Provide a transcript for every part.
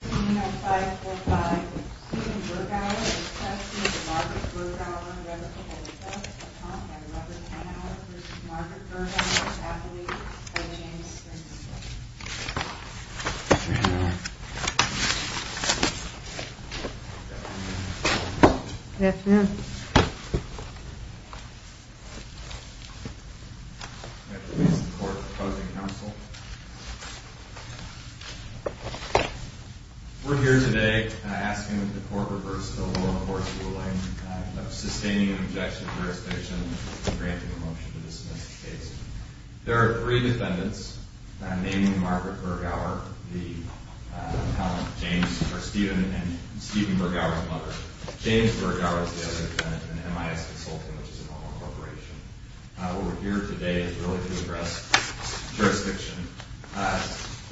Good evening, I'm five-four-five. Steven Bergauer of the trustee of Margaret Bergauer, Reverend Kolejko, and Tom and Reverend Hanauer, v. Margaret Bergauer's affiliate, by James Sternberg. Good afternoon. Good afternoon. My name is Tom Kolejko, and I'm here to support the proposed counsel. We're here today asking that the court reverse the lower court's ruling of sustaining an objection to jurisdiction and granting a motion to dismiss the case. There are three defendants, naming Margaret Bergauer, the Steven Bergauer's mother. James Bergauer is the other defendant, and James Sternberg is the other defendant. We're here today to address jurisdiction.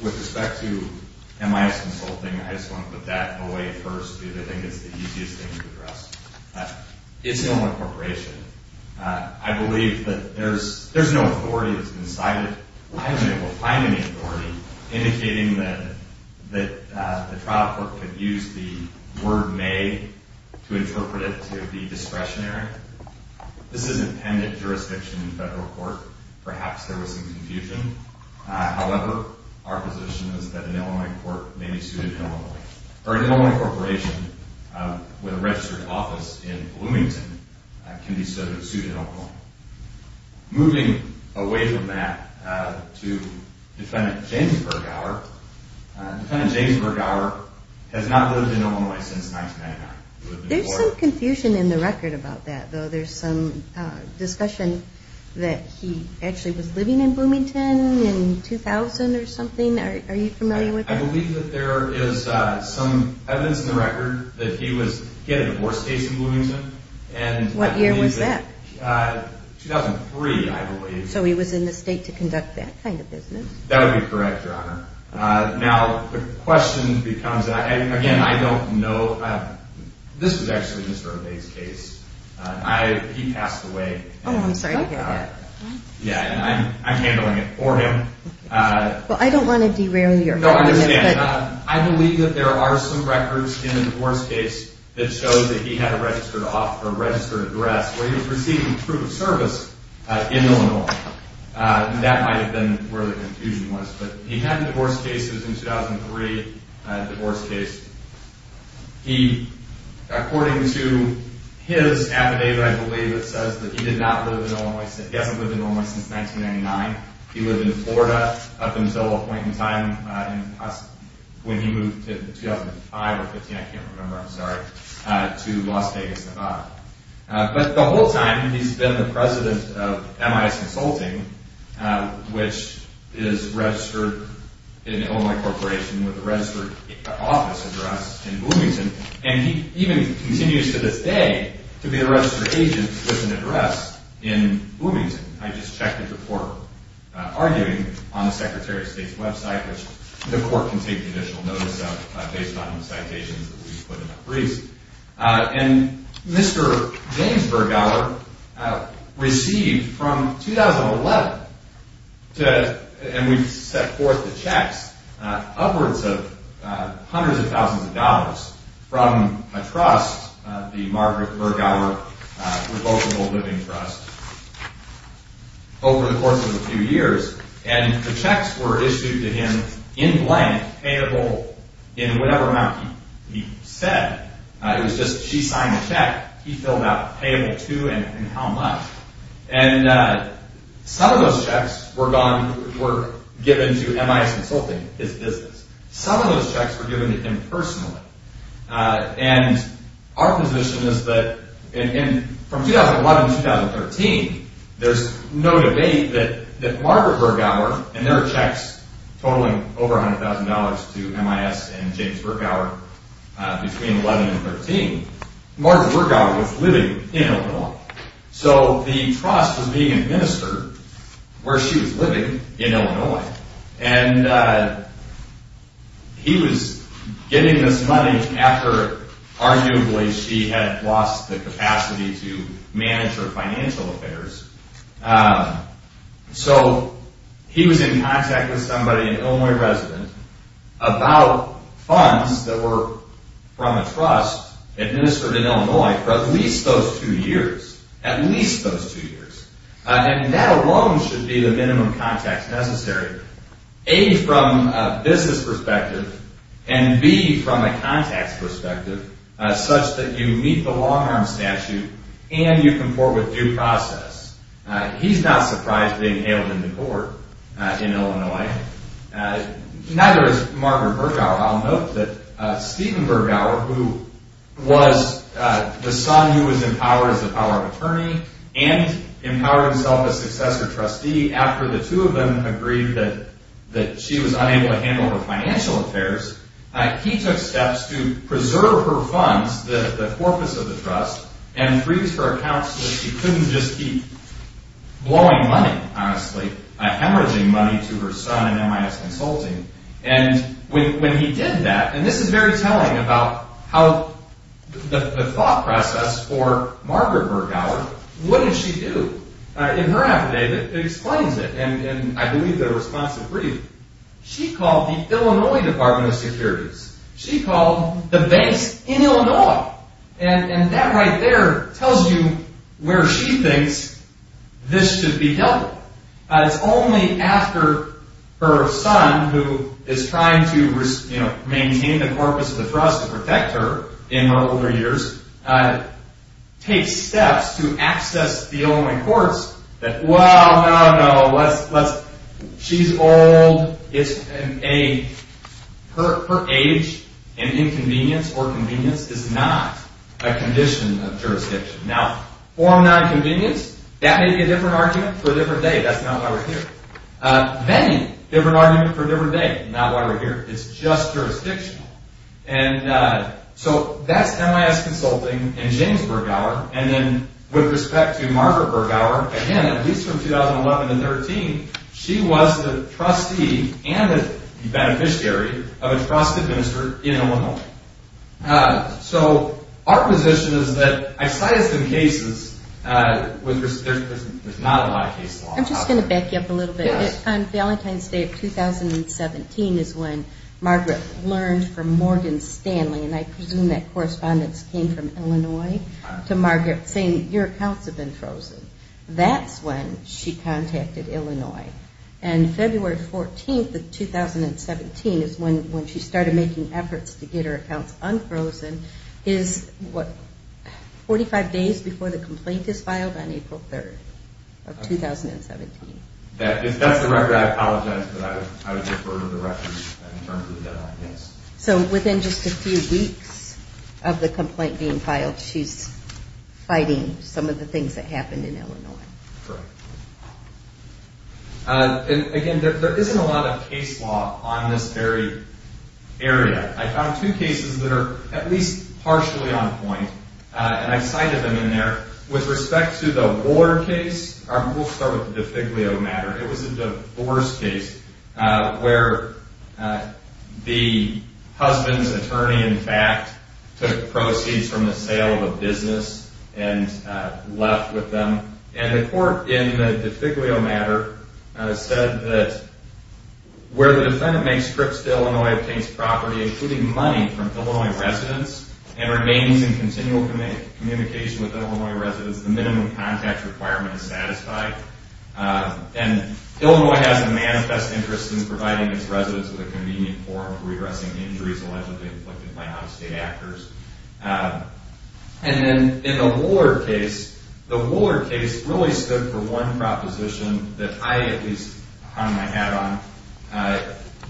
With respect to MIS consulting, I just want to put that away first because I think it's the easiest thing to address. It's no more corporation. I believe that there's no authority that's been cited. I haven't been able to find any authority indicating that the trial court could use the word may to interpret it to be discretionary. This is an appended jurisdiction in federal court. Perhaps there was some confusion. However, our position is that an Illinois court may be sued in Illinois, or an Illinois corporation with a registered office in Bloomington can be sued in Illinois. Moving away from that to defendant James Bergauer. Defendant James Bergauer has not lived in Illinois since 1999. There's some confusion in the record about that, though. There's some discussion that he actually was living in Bloomington in 2000 or something. Are you familiar with that? I believe that there is some evidence in the record that he had a divorce case in Bloomington. What year was that? 2003, I believe. So he was in the state to conduct that kind of business. That would be correct, Your Honor. Now, the question becomes, again, I don't know. This was actually Mr. Obey's case. He passed away. Oh, I'm sorry to hear that. I'm handling it for him. Well, I don't want to derail your happiness. No, I understand. I believe that there are some records in the divorce case that show that he had a registered address where he was receiving proof of service in Illinois. That might have been where the confusion was. But he had divorce cases in 2003, a divorce case. According to his affidavit, I believe it says that he did not live in Illinois. He hasn't lived in Illinois since 1999. He lived in Florida up until a point in time when he moved in 2005 or 2015, I can't remember, I'm sorry, to Las Vegas, Nevada. But the whole time, he's been the president of MIS Consulting, which is registered in Illinois Corporation with a registered office address in Bloomington. And he even continues to this day to be a registered agent with an address in Bloomington. I just checked his report, arguing on the Secretary of State's website, which the court can take additional notice of based on the citations that we put in that brief. And Mr. James Bergauer received from 2011, and we've set forth the checks, upwards of hundreds of thousands of dollars from a trust, the Margaret Bergauer Revocable Living Trust over the course of a few years. And the checks were issued to him in blank, payable in whatever amount he said. It was just she signed a check, he filled out payable to and how much. And some of those checks were given to MIS Consulting, his business. Some of those checks were given to him personally. And our position is that from 2011 to 2013, there's no debate that Margaret Bergauer, and there are checks totaling over $100,000 to MIS and James Bergauer between 2011 and 2013, Margaret Bergauer was living in Illinois. So the trust was being administered where she was living in Illinois. And he was getting this money after arguably she had lost the capacity to manage her financial affairs. So he was in contact with somebody an Illinois resident about funds that were from a trust administered in Illinois for at least those two years. At least those two years. And that alone should be the minimum contacts necessary. A, from a business perspective, and B, from a contacts perspective, such that you meet the long-arm statute and you comport with due process. He's not surprised they nailed him to court in Illinois. Neither is Margaret Bergauer. I'll note that Stephen Bergauer, who was the son who was empowered as the power of attorney and empowered himself as successor trustee after the two of them agreed that she was unable to handle her financial affairs, he took steps to preserve her trust and freeze her accounts so that she couldn't just keep blowing money, honestly, hemorrhaging money to her son in MIS Consulting. And when he did that, and this is very telling about how the thought process for Margaret Bergauer, what did she do? In her affidavit, it explains it, and I believe they're responsive brief. She called the Illinois Department of Securities. She called the banks in Illinois. And that right there tells you where she thinks this should be held. It's only after her son, who is trying to maintain the corpus of the trust and protect her in her older years, takes steps to access the Illinois courts that, well, no, no, she's old. Her age and inconvenience or convenience is not a condition of jurisdiction. Now, form nonconvenience, that may be a different argument for a different day. That's not why we're here. Many different arguments for a different day, not why we're here. It's just jurisdictional. And so that's MIS Consulting and James Bergauer. And then with respect to Margaret Bergauer, again, at least from 2011 to 2013, she was the trustee and the beneficiary of a trust administered in Illinois. So our position is that I cited some cases with not a lot of case law. I'm just going to back you up a little bit. On Valentine's Day of 2017 is when Margaret learned from Morgan Stanley, and I presume that correspondence came from Illinois, to Margaret saying your accounts have been frozen. That's when she contacted Illinois. And February 14th of 2017 is when she started making efforts to get her accounts unfrozen, is what, 45 days before the complaint is filed on April 3rd of 2017. If that's the record, I apologize, but I would defer to the record in terms of the deadline. So within just a few weeks of the complaint being filed, she's fighting some of the things that happened in Illinois. And again, there isn't a lot of case law on this very area. I found two cases that are at least partially on point, and I cited them in there. With respect to the War case, we'll start with the Defiglio matter. It was a divorce case where the husband's attorney, in fact, took proceeds from the sale of a business and left with them. And the court in the Defiglio matter said that where the defendant makes trips to Illinois, obtains communication with Illinois residents, the minimum contact requirement is satisfied. And Illinois has a manifest interest in providing its residents with a convenient form for redressing injuries allegedly inflicted by out-of-state actors. And then in the Woollard case, the Woollard case really stood for one proposition that I at least hung my hat on,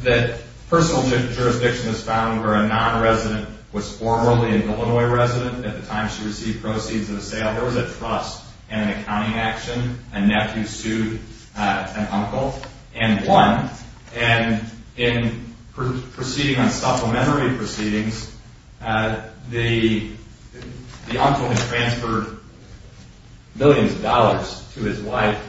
that personal jurisdiction was found where a non-resident was formerly an Illinois resident at the time she received proceeds of the sale. There was a trust and an accounting action. A nephew sued an uncle and won. And in proceeding on supplementary proceedings, the uncle had transferred millions of dollars to his wife,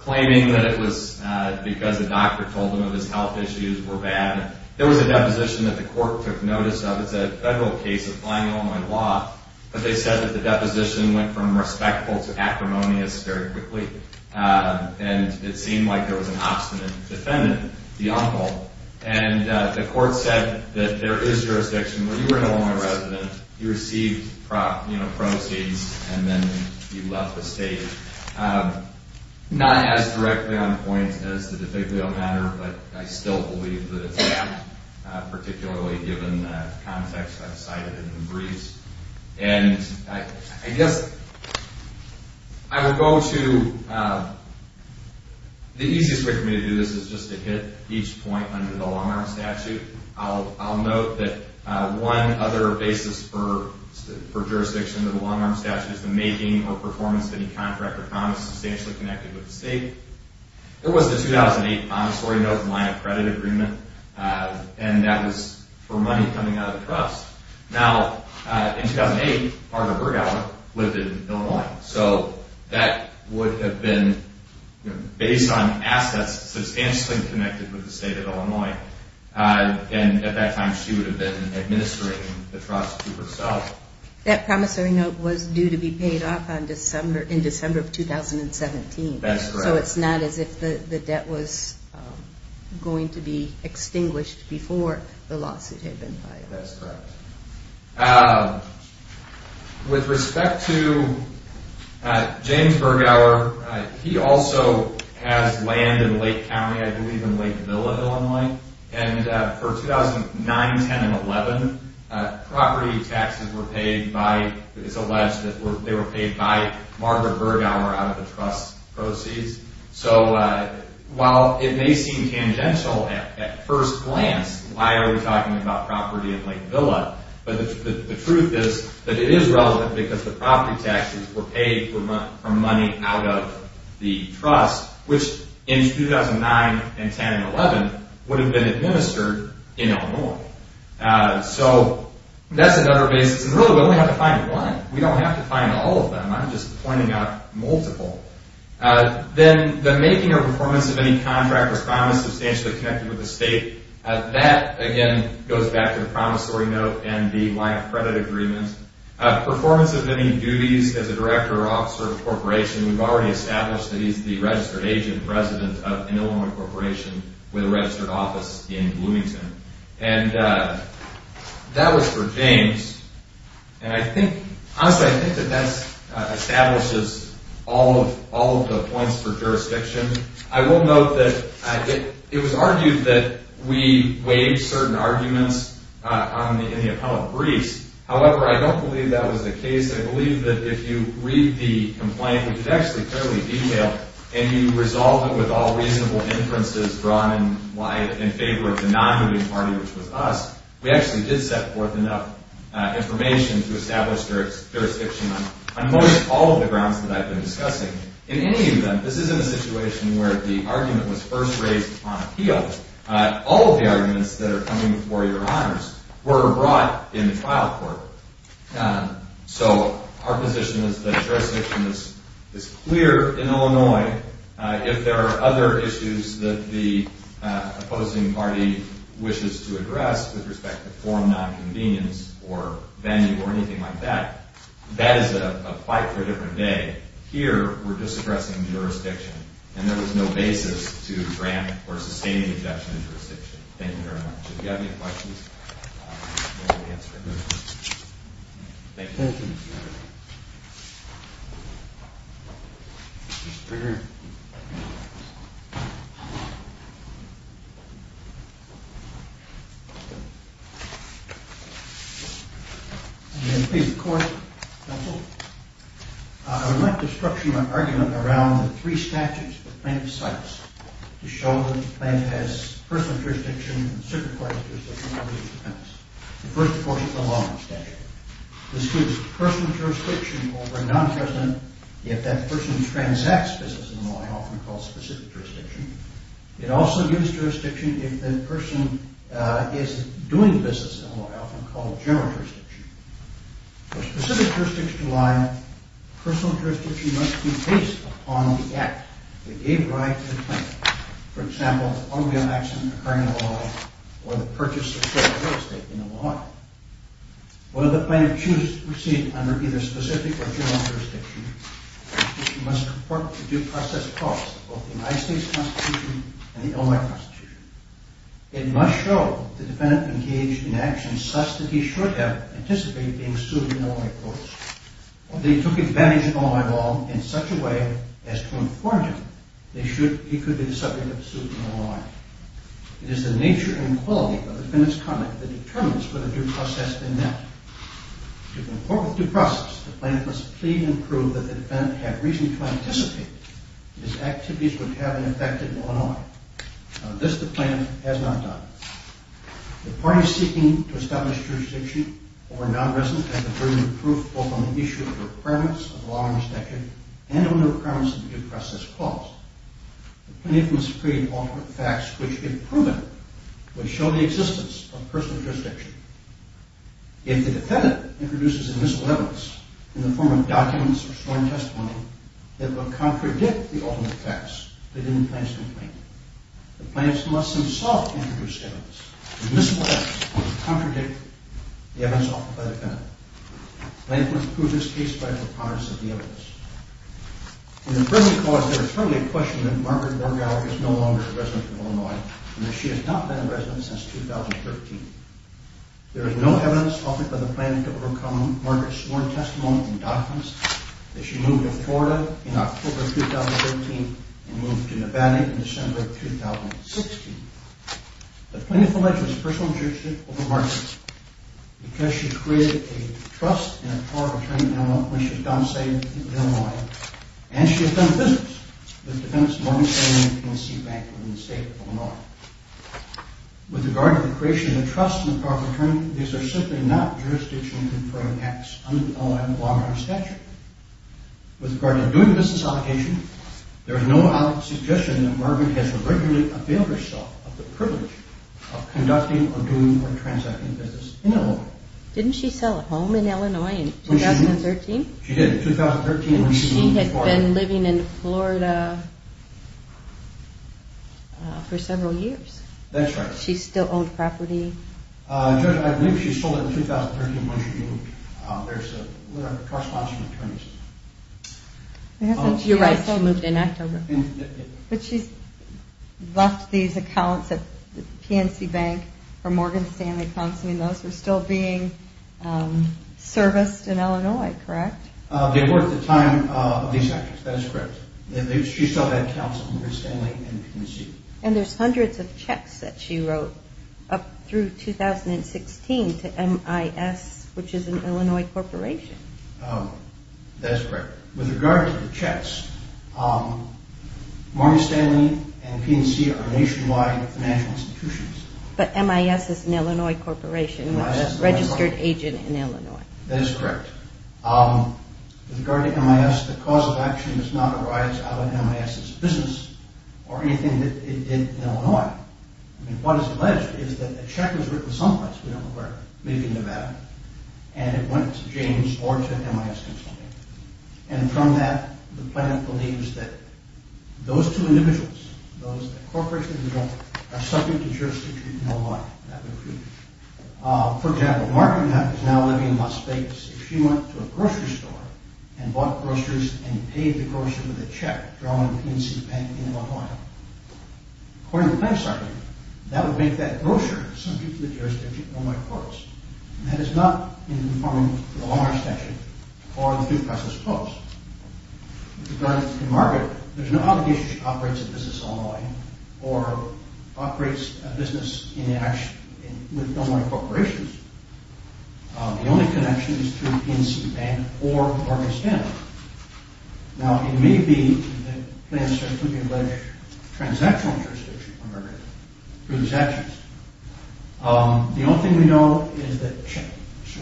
claiming that it was because the doctor told him that his health issues were bad. There was a deposition that the court took notice of. It's a federal case applying Illinois law. But they said that the deposition went from respectful to acrimonious very quickly. And it seemed like there was an obstinate defendant, the uncle. And the court said that there is jurisdiction where you were an Illinois resident, you received proceeds, and then you left the state. Not as directly on point as the DeFiglio matter, but I still believe that it's that, particularly given the context I've cited in the briefs. And I guess I would go to the easiest way for me to do this is just to hit each point under the long-arm statute. I'll note that one other basis for jurisdiction under the long-arm statute is the making or performance of any contract or promise substantially connected with the state. There was the 2008 Montessori-Nope line of credit agreement. And that was for money coming out of the trust. Now, in 2008, Arthur Bergauer lived in Illinois. So that would have been based on assets substantially connected with the state of Illinois. And at that time, she would have been administering the trust to herself. That Montessori-Nope was due to be paid off in December of 2017. So it's not as if the debt was going to be extinguished before the lawsuit had been filed. With respect to James Bergauer, he also has land in Lake County, I believe in Lake Villa, Illinois. And for 2009, 10, and 11, property taxes were paid by, it's alleged that they were paid by Margaret Bergauer out of the trust proceeds. So while it may seem tangential at first glance, why are we talking about property in Lake Villa? But the truth is that it is relevant because the property taxes were paid for money out of the trust, which in 2009 and 10 and 11 would have been administered in Illinois. So that's another basis. And really, we only have to find one. We don't have to find all of them. I'm just pointing out multiple. Then the making or performance of any contract was finally substantially connected with the state. That, again, goes back to the Montessori-Nope and the line of credit agreement. Performance of any duties as a director or officer of a corporation. We've already established that he's the registered agent and president of an Illinois corporation with a registered office in Bloomington. And that was for James. And I think, honestly, I think that that establishes all of the points for jurisdiction. I will note that it was argued that we waived certain arguments in the appellate briefs. However, I don't believe that was the case. I believe that if you read the complaint, which is actually fairly detailed, and you resolve it with all reasonable inferences drawn in favor of the non-moving party, which was us, we actually did set forth enough information to establish jurisdiction on most all of the grounds that I've been discussing. In any event, this isn't a situation where the argument was first raised on appeal. All of the arguments that are coming before your honors were brought in the trial court. So our position is that jurisdiction is clear in Illinois. If there are other issues that the opposing party wishes to address with respect to form nonconvenience or venue or anything like that, that is a fight for a different day. Here, we're just addressing jurisdiction. And there was no basis to grant or sustain the objection in jurisdiction. Thank you very much. If you have any questions, I'll be happy to answer them. Thank you. I would like to structure my argument around the three statutes that the plaintiff cites to show that the plaintiff has personal jurisdiction and circumcised jurisdiction under his dependence. The first, of course, is the Lawman Statute. This gives personal jurisdiction over a non-president if that person transacts business in Illinois, often called specific jurisdiction. It also gives jurisdiction if the person is doing business in Illinois, often called general jurisdiction. For specific jurisdiction to lie, personal jurisdiction must be based upon the act that gave rise to the claim, for example, the automobile accident occurring in Illinois or the purchase or sale of real estate in Illinois. Whether the plaintiff chooses to proceed under either specific or general jurisdiction, the plaintiff must report the due process cost of both the United States Constitution and the Illinois Constitution. It must show that the defendant engaged in actions such that he should have anticipated being sued in Illinois, of course, or that he took advantage of Illinois Law in such a way as to inform him that he could be the subject of a suit in Illinois. It is the nature and quality of the defendant's conduct that determines whether due process has been met. To comport with due process, the plaintiff must plead and prove that the defendant had reason to The plaintiff has not done it. The parties seeking to establish jurisdiction over non-resident have the burden of proof both on the issue of the requirements of law and jurisdiction and on the requirements of the due process cost. The plaintiff must plead ultimate facts which, if proven, would show the existence of personal jurisdiction. If the defendant introduces a miscellaneous in the form of documents or sworn testimony that will themselves introduce evidence, the miscellaneous would contradict the evidence offered by the defendant. The plaintiff must prove this case by the promise of the evidence. In the present cause, there is firmly a question that Margaret Borgauer is no longer a resident of Illinois and that she has not been a resident since 2013. There is no evidence offered by the plaintiff to overcome Margaret's sworn testimony and documents that she moved to Florida in October of 2013 and moved to Nevada in December of 2016. The plaintiff alleges personal jurisdiction over Margaret because she has created a trust and a power of attorney in Illinois when she was domiciled in Illinois and she has done business with the defendant's mortgage-paying agency bank in the state of Illinois. With regard to the creation of a trust and a power of attorney, these are simply not true. When doing a business application, there is no object suggestion that Margaret has regularly availed herself of the privilege of conducting or doing or transacting business in Illinois. Didn't she sell a home in Illinois in 2013? She did. She had been living in Florida for several years. That's right. She still owned property. Judge, I believe she sold it in 2013 when she moved. There is a trust and a power of attorney system. You're right. She moved in October. But she left these accounts at the PNC Bank for Morgan Stanley Counseling. Those were still being serviced in Illinois, correct? They were at the time of these actions. That is correct. She still had counsel, Morgan Stanley and McKinsey. And there's hundreds of checks that she wrote up through 2016 to MIS, which is an Illinois corporation. That is correct. With regard to the checks, Morgan Stanley and PNC are nationwide financial institutions. But MIS is an Illinois corporation, a registered agent in Illinois. That is correct. With regard to MIS, the cause of action does not arise out of MIS' business or anything that it did in Illinois. What is alleged is that a check was written someplace, we don't know where, maybe in Nevada, and it went to James or to MIS Consulting. And from that, the plaintiff believes that those two individuals, those For example, Morgan is now living in Las Vegas. If she went to a grocery store and bought groceries and paid the grocery with a check drawn at the PNC Bank in Illinois, according to the plaintiff's argument, that would make that grocery subject to the jurisdiction of Illinois Courts. And that is not in conforming to the Longer Statute or the due process clause. With regard to Morgan, there's no obligation that she operates a business in Illinois or operates a business with Illinois corporations. The only connection is through PNC Bank or Morgan Stanley. Now, it may be that the plaintiff says we can pledge transactional jurisdiction for Morgan through these actions. The only thing we know is that checks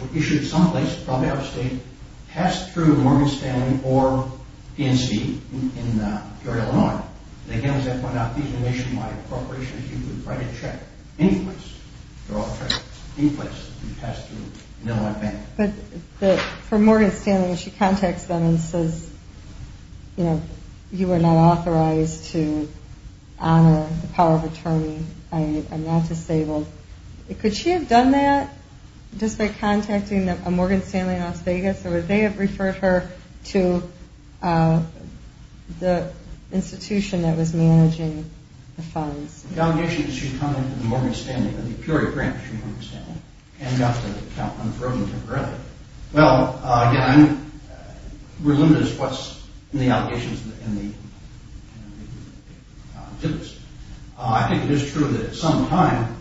were issued someplace, probably out of state, passed through Morgan Stanley or PNC in Illinois. And again, as I pointed out, these are nationwide corporations. You can write a check anyplace. They're all checked anyplace. You pass through an Illinois bank. But for Morgan Stanley, when she contacts them and says, you know, you are not authorized to honor the power of attorney, I am not disabled. Could she have done that just by contacting a Morgan Stanley in Las Vegas or would they have referred her to the institution that was managing the funds? The allegations that she contacted the Morgan Stanley, the Peoria branch of Morgan Stanley, ended up unfrozen temporarily. Well, again, we're limited to what's in the allegations and the tips. I think it is true that sometime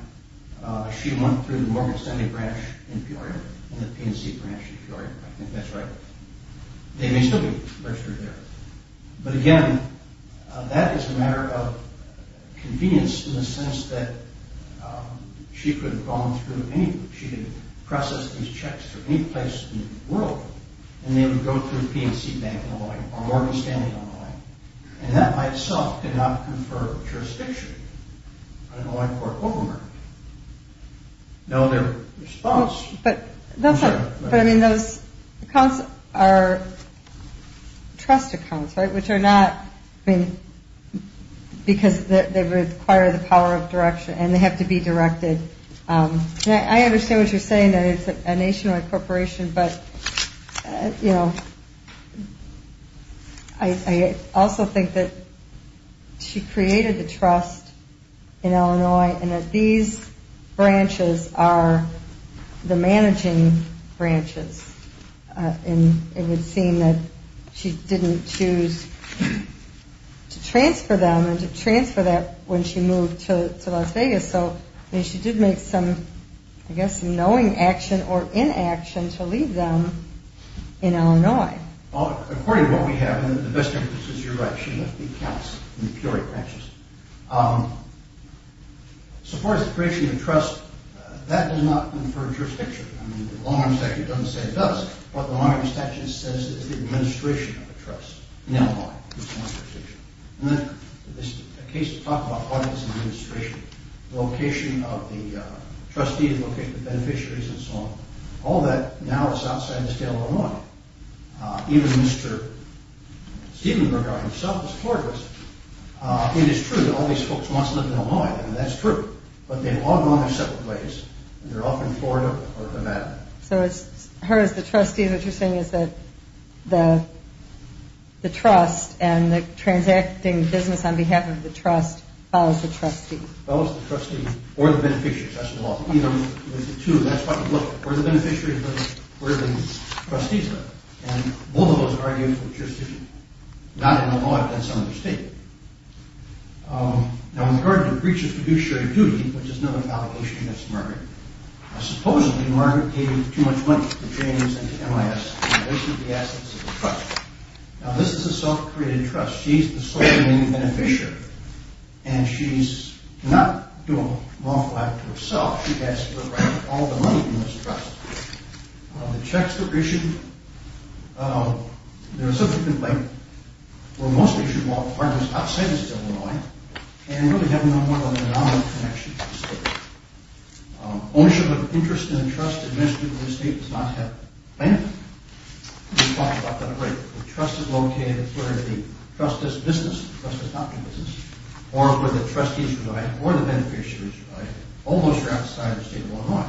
she went through the Morgan Stanley branch in Peoria and the PNC branch in Peoria. I think that's right. They may still be registered there. But again, that is a matter of convenience in the sense that she could have gone through any, she could have processed these checks from any place in the world and they would go through the PNC bank in Illinois or Morgan Stanley in Illinois and that by itself could not confer jurisdiction on an Illinois court over her. Now their response... Those accounts are trust accounts, right, which are not because they require the power of direction and they have to be directed. I understand what you're saying, that it's a nationwide corporation, but I also think that she created the trust in Illinois and that these branches are the managing branches and it would seem that she didn't choose to transfer them when she moved to Las Vegas, so she did make some knowing action or inaction to leave them in Illinois. According to what we have, and the best thing is that you're right, she left these accounts in Peoria branches. So far as the creation of trust, that does not confer jurisdiction. The Long Arm Statute doesn't say it does. What the Long Arm Statute says is the administration of the trust in Illinois. Location of the trustees, location of the beneficiaries and so on. All that now is outside of the state of Illinois. Even Mr. Stevenberg himself is Florida. It is true that all these folks want to live in Illinois. That's true, but they've all gone their separate ways. They're often Florida or Nevada. So her, as the trustee, what you're saying is that the trust and the transacting business on behalf of the trust follows the trustee. Follows the trustee or the beneficiary, that's the law. Either of the two, that's what you look for. The beneficiary or the trustee. And both of those arguments are just not in the law, that's understated. Now in regard to breaches to do shared duty, which is another allegation against Margaret. Supposedly Margaret gave too much money to James and to MIS in relation to the assets of the trust. Now this is a self-created trust. She's the sole remaining beneficiary. And she's not doing lawful act to herself. She has to look right at all the money in this trust. The checks that are issued, there are subsequent breaches to the trust. The ownership of interest in the trust administratively in the state does not have anything. The trust is located where the trust is business or where the trustee is provided or the beneficiary is provided. All those are outside the state of Illinois.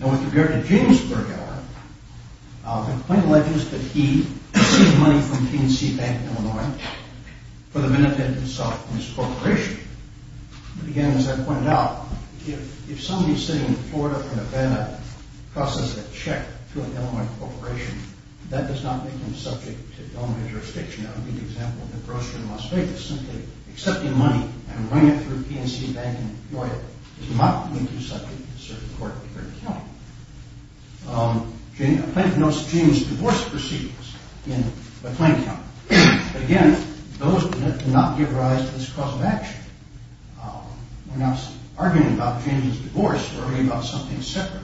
Now in regard to James Burghardt, the claim alleges that he received money from PNC Bank in Illinois for the benefit of himself and his corporation. But again, as I pointed out, if somebody sitting in Florida or Nevada crosses a check to an Illinois corporation, that does not make him subject to Illinois jurisdiction. That would be the example of the grocery in Las Vegas. Simply accepting money and running it through PNC Bank in Illinois does not make him subject to the circuit court here in the county. A plaintiff notes James' divorce proceedings in McLean County. Again, those do not give rise to this cause of action. We're not arguing about James' divorce. We're arguing about something separate.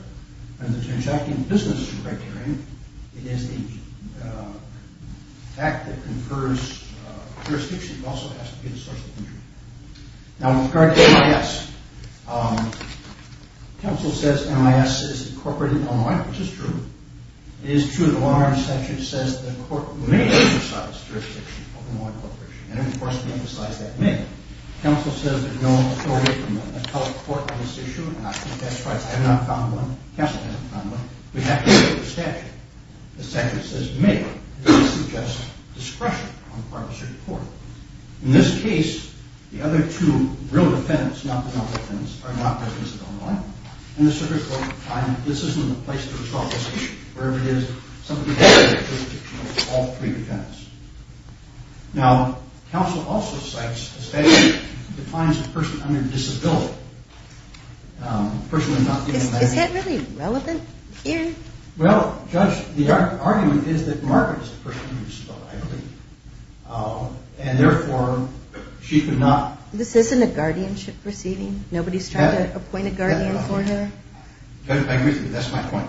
And the transaction in business is a criterion. It is the fact that confers jurisdiction also has to be the source of injury. Now in regard to MIS, counsel says MIS is incorporated in Illinois, which is true. It is true. The Long Island statute says the court may emphasize jurisdiction of an Illinois corporation. And of course we emphasize that may. Counsel says there's no authority from the federal court on this issue and I think that's right. I have not found one. Counsel hasn't found one. We have to look at the statute. The statute says may, which suggests discretion on the part of the circuit court. In this case, the other two real defendants, not the non-defendants, are not residents of Illinois. And the circuit court finds that this isn't a place to resolve this issue. Wherever it is, somebody has jurisdiction over all three defendants. Now, counsel also cites the statute that defines a person under disability. Is that really relevant here? Well, Judge, the argument is that Margaret is a person under disability, I believe. And therefore, she could not This isn't a guardianship proceeding? Nobody's trying to appoint a guardian for her? Judge, I agree with you. That's my point.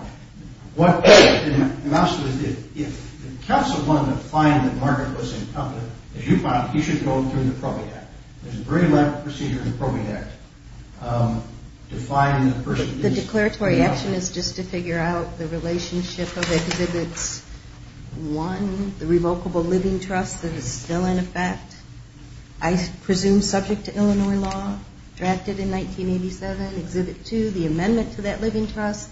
What I'm asking is if counsel wanted to find that Margaret was incompetent, as you found, he should go through the Probate Act. There's a very elaborate procedure in the Probate Act defining the person The declaratory action is just to figure out the relationship of Exhibit 1, the revocable living trust that is still in effect, I presume subject to Illinois law, drafted in 1987. Exhibit 2, the amendment to that living trust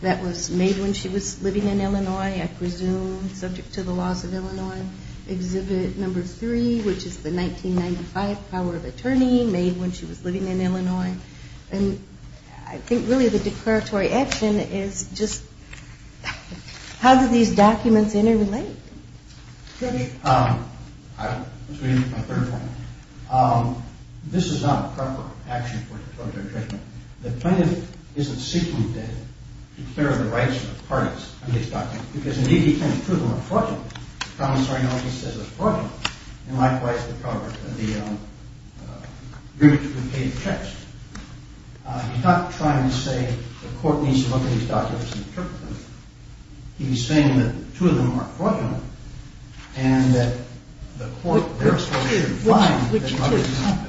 that was made when she was living in Illinois, I presume, subject to the laws of Illinois. Exhibit 3, which is the 1995 power of attorney made when she was living in Illinois. And I think really the declaratory action is just how do these documents interrelate? Judge, this is not proper action for declaratory treatment. The plaintiff isn't seeking to declare the rights of the parties in these documents, because indeed he claims two of them are fraudulent. The commissary knows he says they're fraudulent, and likewise the group who paid the checks. He's not trying to say the court needs to look at these documents and interpret them. He's saying that two of them are fraudulent and that the court therefore should find another document.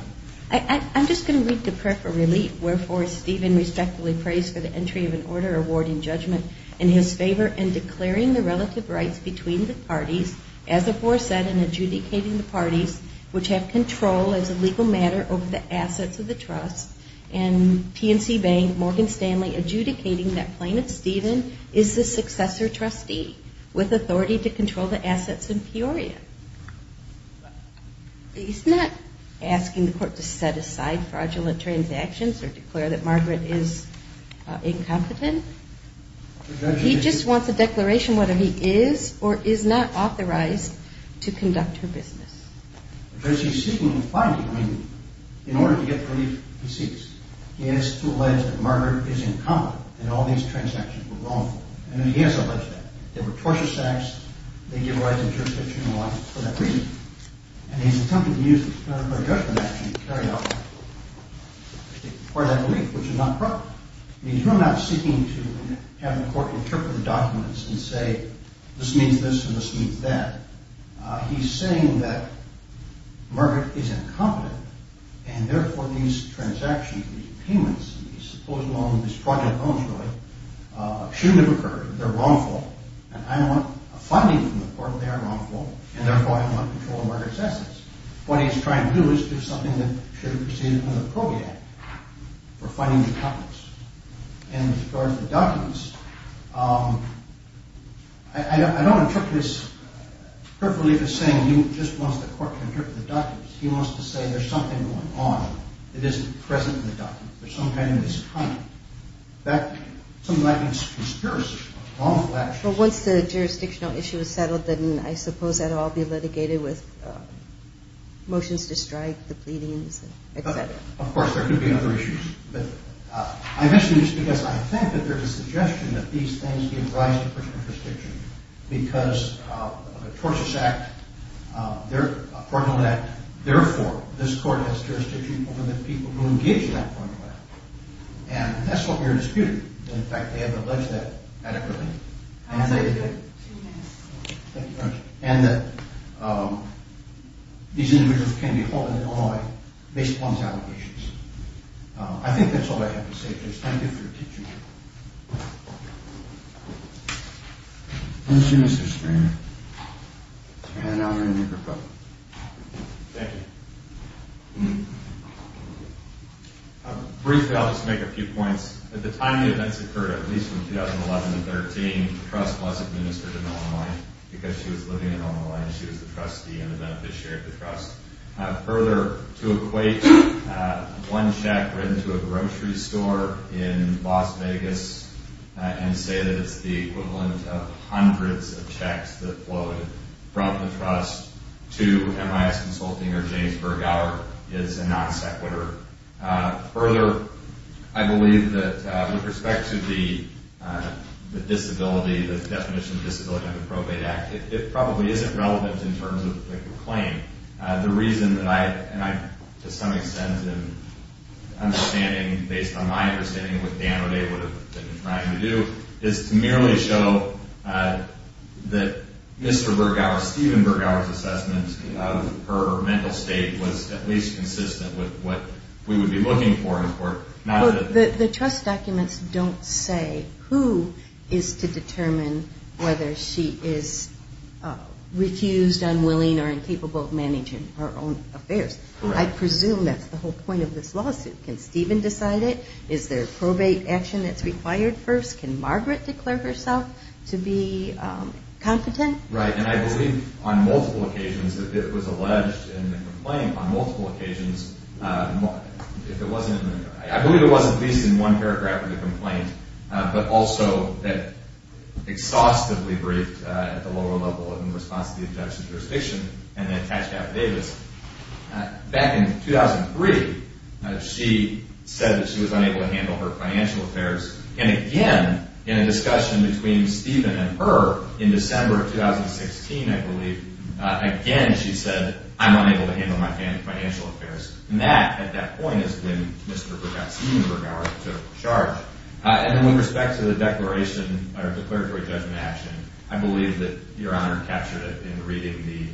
I'm just going to read the prayer for relief. Wherefore, Stephen respectfully prays for the entry of an order awarding judgment in his favor in declaring the relative rights between the parties, as aforesaid, in adjudicating the parties which have control as a legal matter over the assets of the trust, and PNC Bank, Morgan Stanley, adjudicating that Plaintiff Stephen is the successor trustee with authority to control the assets in Peoria. He's not asking the court to set aside fraudulent transactions or declare that Margaret is incompetent. He just wants a declaration whether he is or is not authorized to conduct her business. The judge is seeking the plaintiff in order to get relief He seeks. He has to allege that Margaret is incompetent and all these transactions were wrongful. And he has alleged that. There were tortious acts. They give rise to jurisdiction and all that for that reason. And he's attempting to use the explanatory judgment action to carry out that belief, which is not proper. He's really not seeking to have the court interpret the documents and say this means this and this means that. He's saying that Margaret is incompetent and therefore these transactions, these payments, these supposed loans, these fraudulent loans really shouldn't have occurred. They're wrongful and I want a finding from the court that they are wrongful and therefore I want control of Margaret's assets. What he's trying to do is do something that should have proceeded under the Probate Act for finding the competence. And as far as the documents, I don't interpret this perfectly for saying he just wants the court to interpret the documents. He wants to say there's something going on that isn't present in the documents. There's some kind of misconduct. Something like a conspiracy. Wrongful actions. Well once the jurisdictional issue is settled then I suppose that will all be litigated with motions to strike, the pleadings, etc. Of course there could be other issues. I mention this because I think that there's a suggestion that these things give rise to personal jurisdiction because of a tortious act a fraudulent act, therefore this court has jurisdiction over the people who engage in that fraudulent act. And that's what we're disputing. In fact they have alleged that adequately. And that these individuals can be held in Illinois based upon these allegations. I think that's all I have to say. Thank you for your teaching. Thank you Mr. Schreiner. Thank you. Briefly I'll just make a few points. At the time the events occurred, at least from when she was the trustee and the beneficiary of the trust. Further, to equate one check written to a grocery store in Las Vegas and say that it's the equivalent of hundreds of checks that flowed from the trust to MIS Consulting or James Bergauer is a non sequitur. Further, I believe that with respect to the disability, the definition of disability under the probate act, it probably isn't relevant in terms of the claim. The reason that I, and to some extent in understanding, based on my understanding of what Dan O'Dea would have been trying to do, is to merely show that Mr. Bergauer, Stephen Bergauer's assessment of her mental state was at least consistent with what we would be looking for in court. The trust documents don't say who is to determine whether she is refused, unwilling, or incapable of managing her own affairs. I presume that's the whole point of this lawsuit. Can Stephen decide it? Is there probate action that's required first? Can Margaret declare herself to be competent? Right, and I believe on multiple occasions it was alleged in the complaint, on multiple occasions, I believe it was at least in one paragraph of the complaint, but also exhaustively briefed at the lower level in response to the objection to jurisdiction and then attached affidavits. Back in 2003, she said that she was unable to handle her financial affairs, and again, in a discussion between Stephen and her in December of 2016, I believe, again she said, I'm unable to handle my financial affairs. And that, at that point, has been Mr. Bergauer's charge. And then with respect to the declaration, or declaratory judgment action, I believe that Your Honor captured it in reading the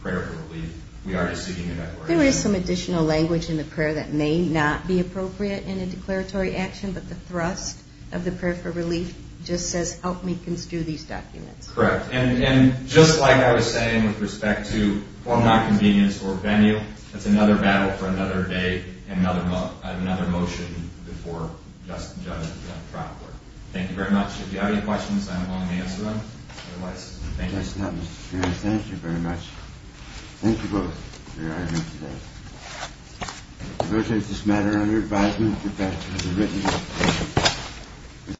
prayer for relief. We are just seeking a declaration. There is some additional language in the prayer that may not be appropriate in a declaratory action, but the thrust of the prayer for relief just says help me construe these documents. Correct. And just like I was saying with respect to home non-convenience or venue, that's another battle for another day and another motion before Justice John Trautler. Thank you very much. If you have any questions, I'm willing to answer them. Thank you. Thank you very much. Thank you both, Your Honor. I appreciate this matter and your advisement.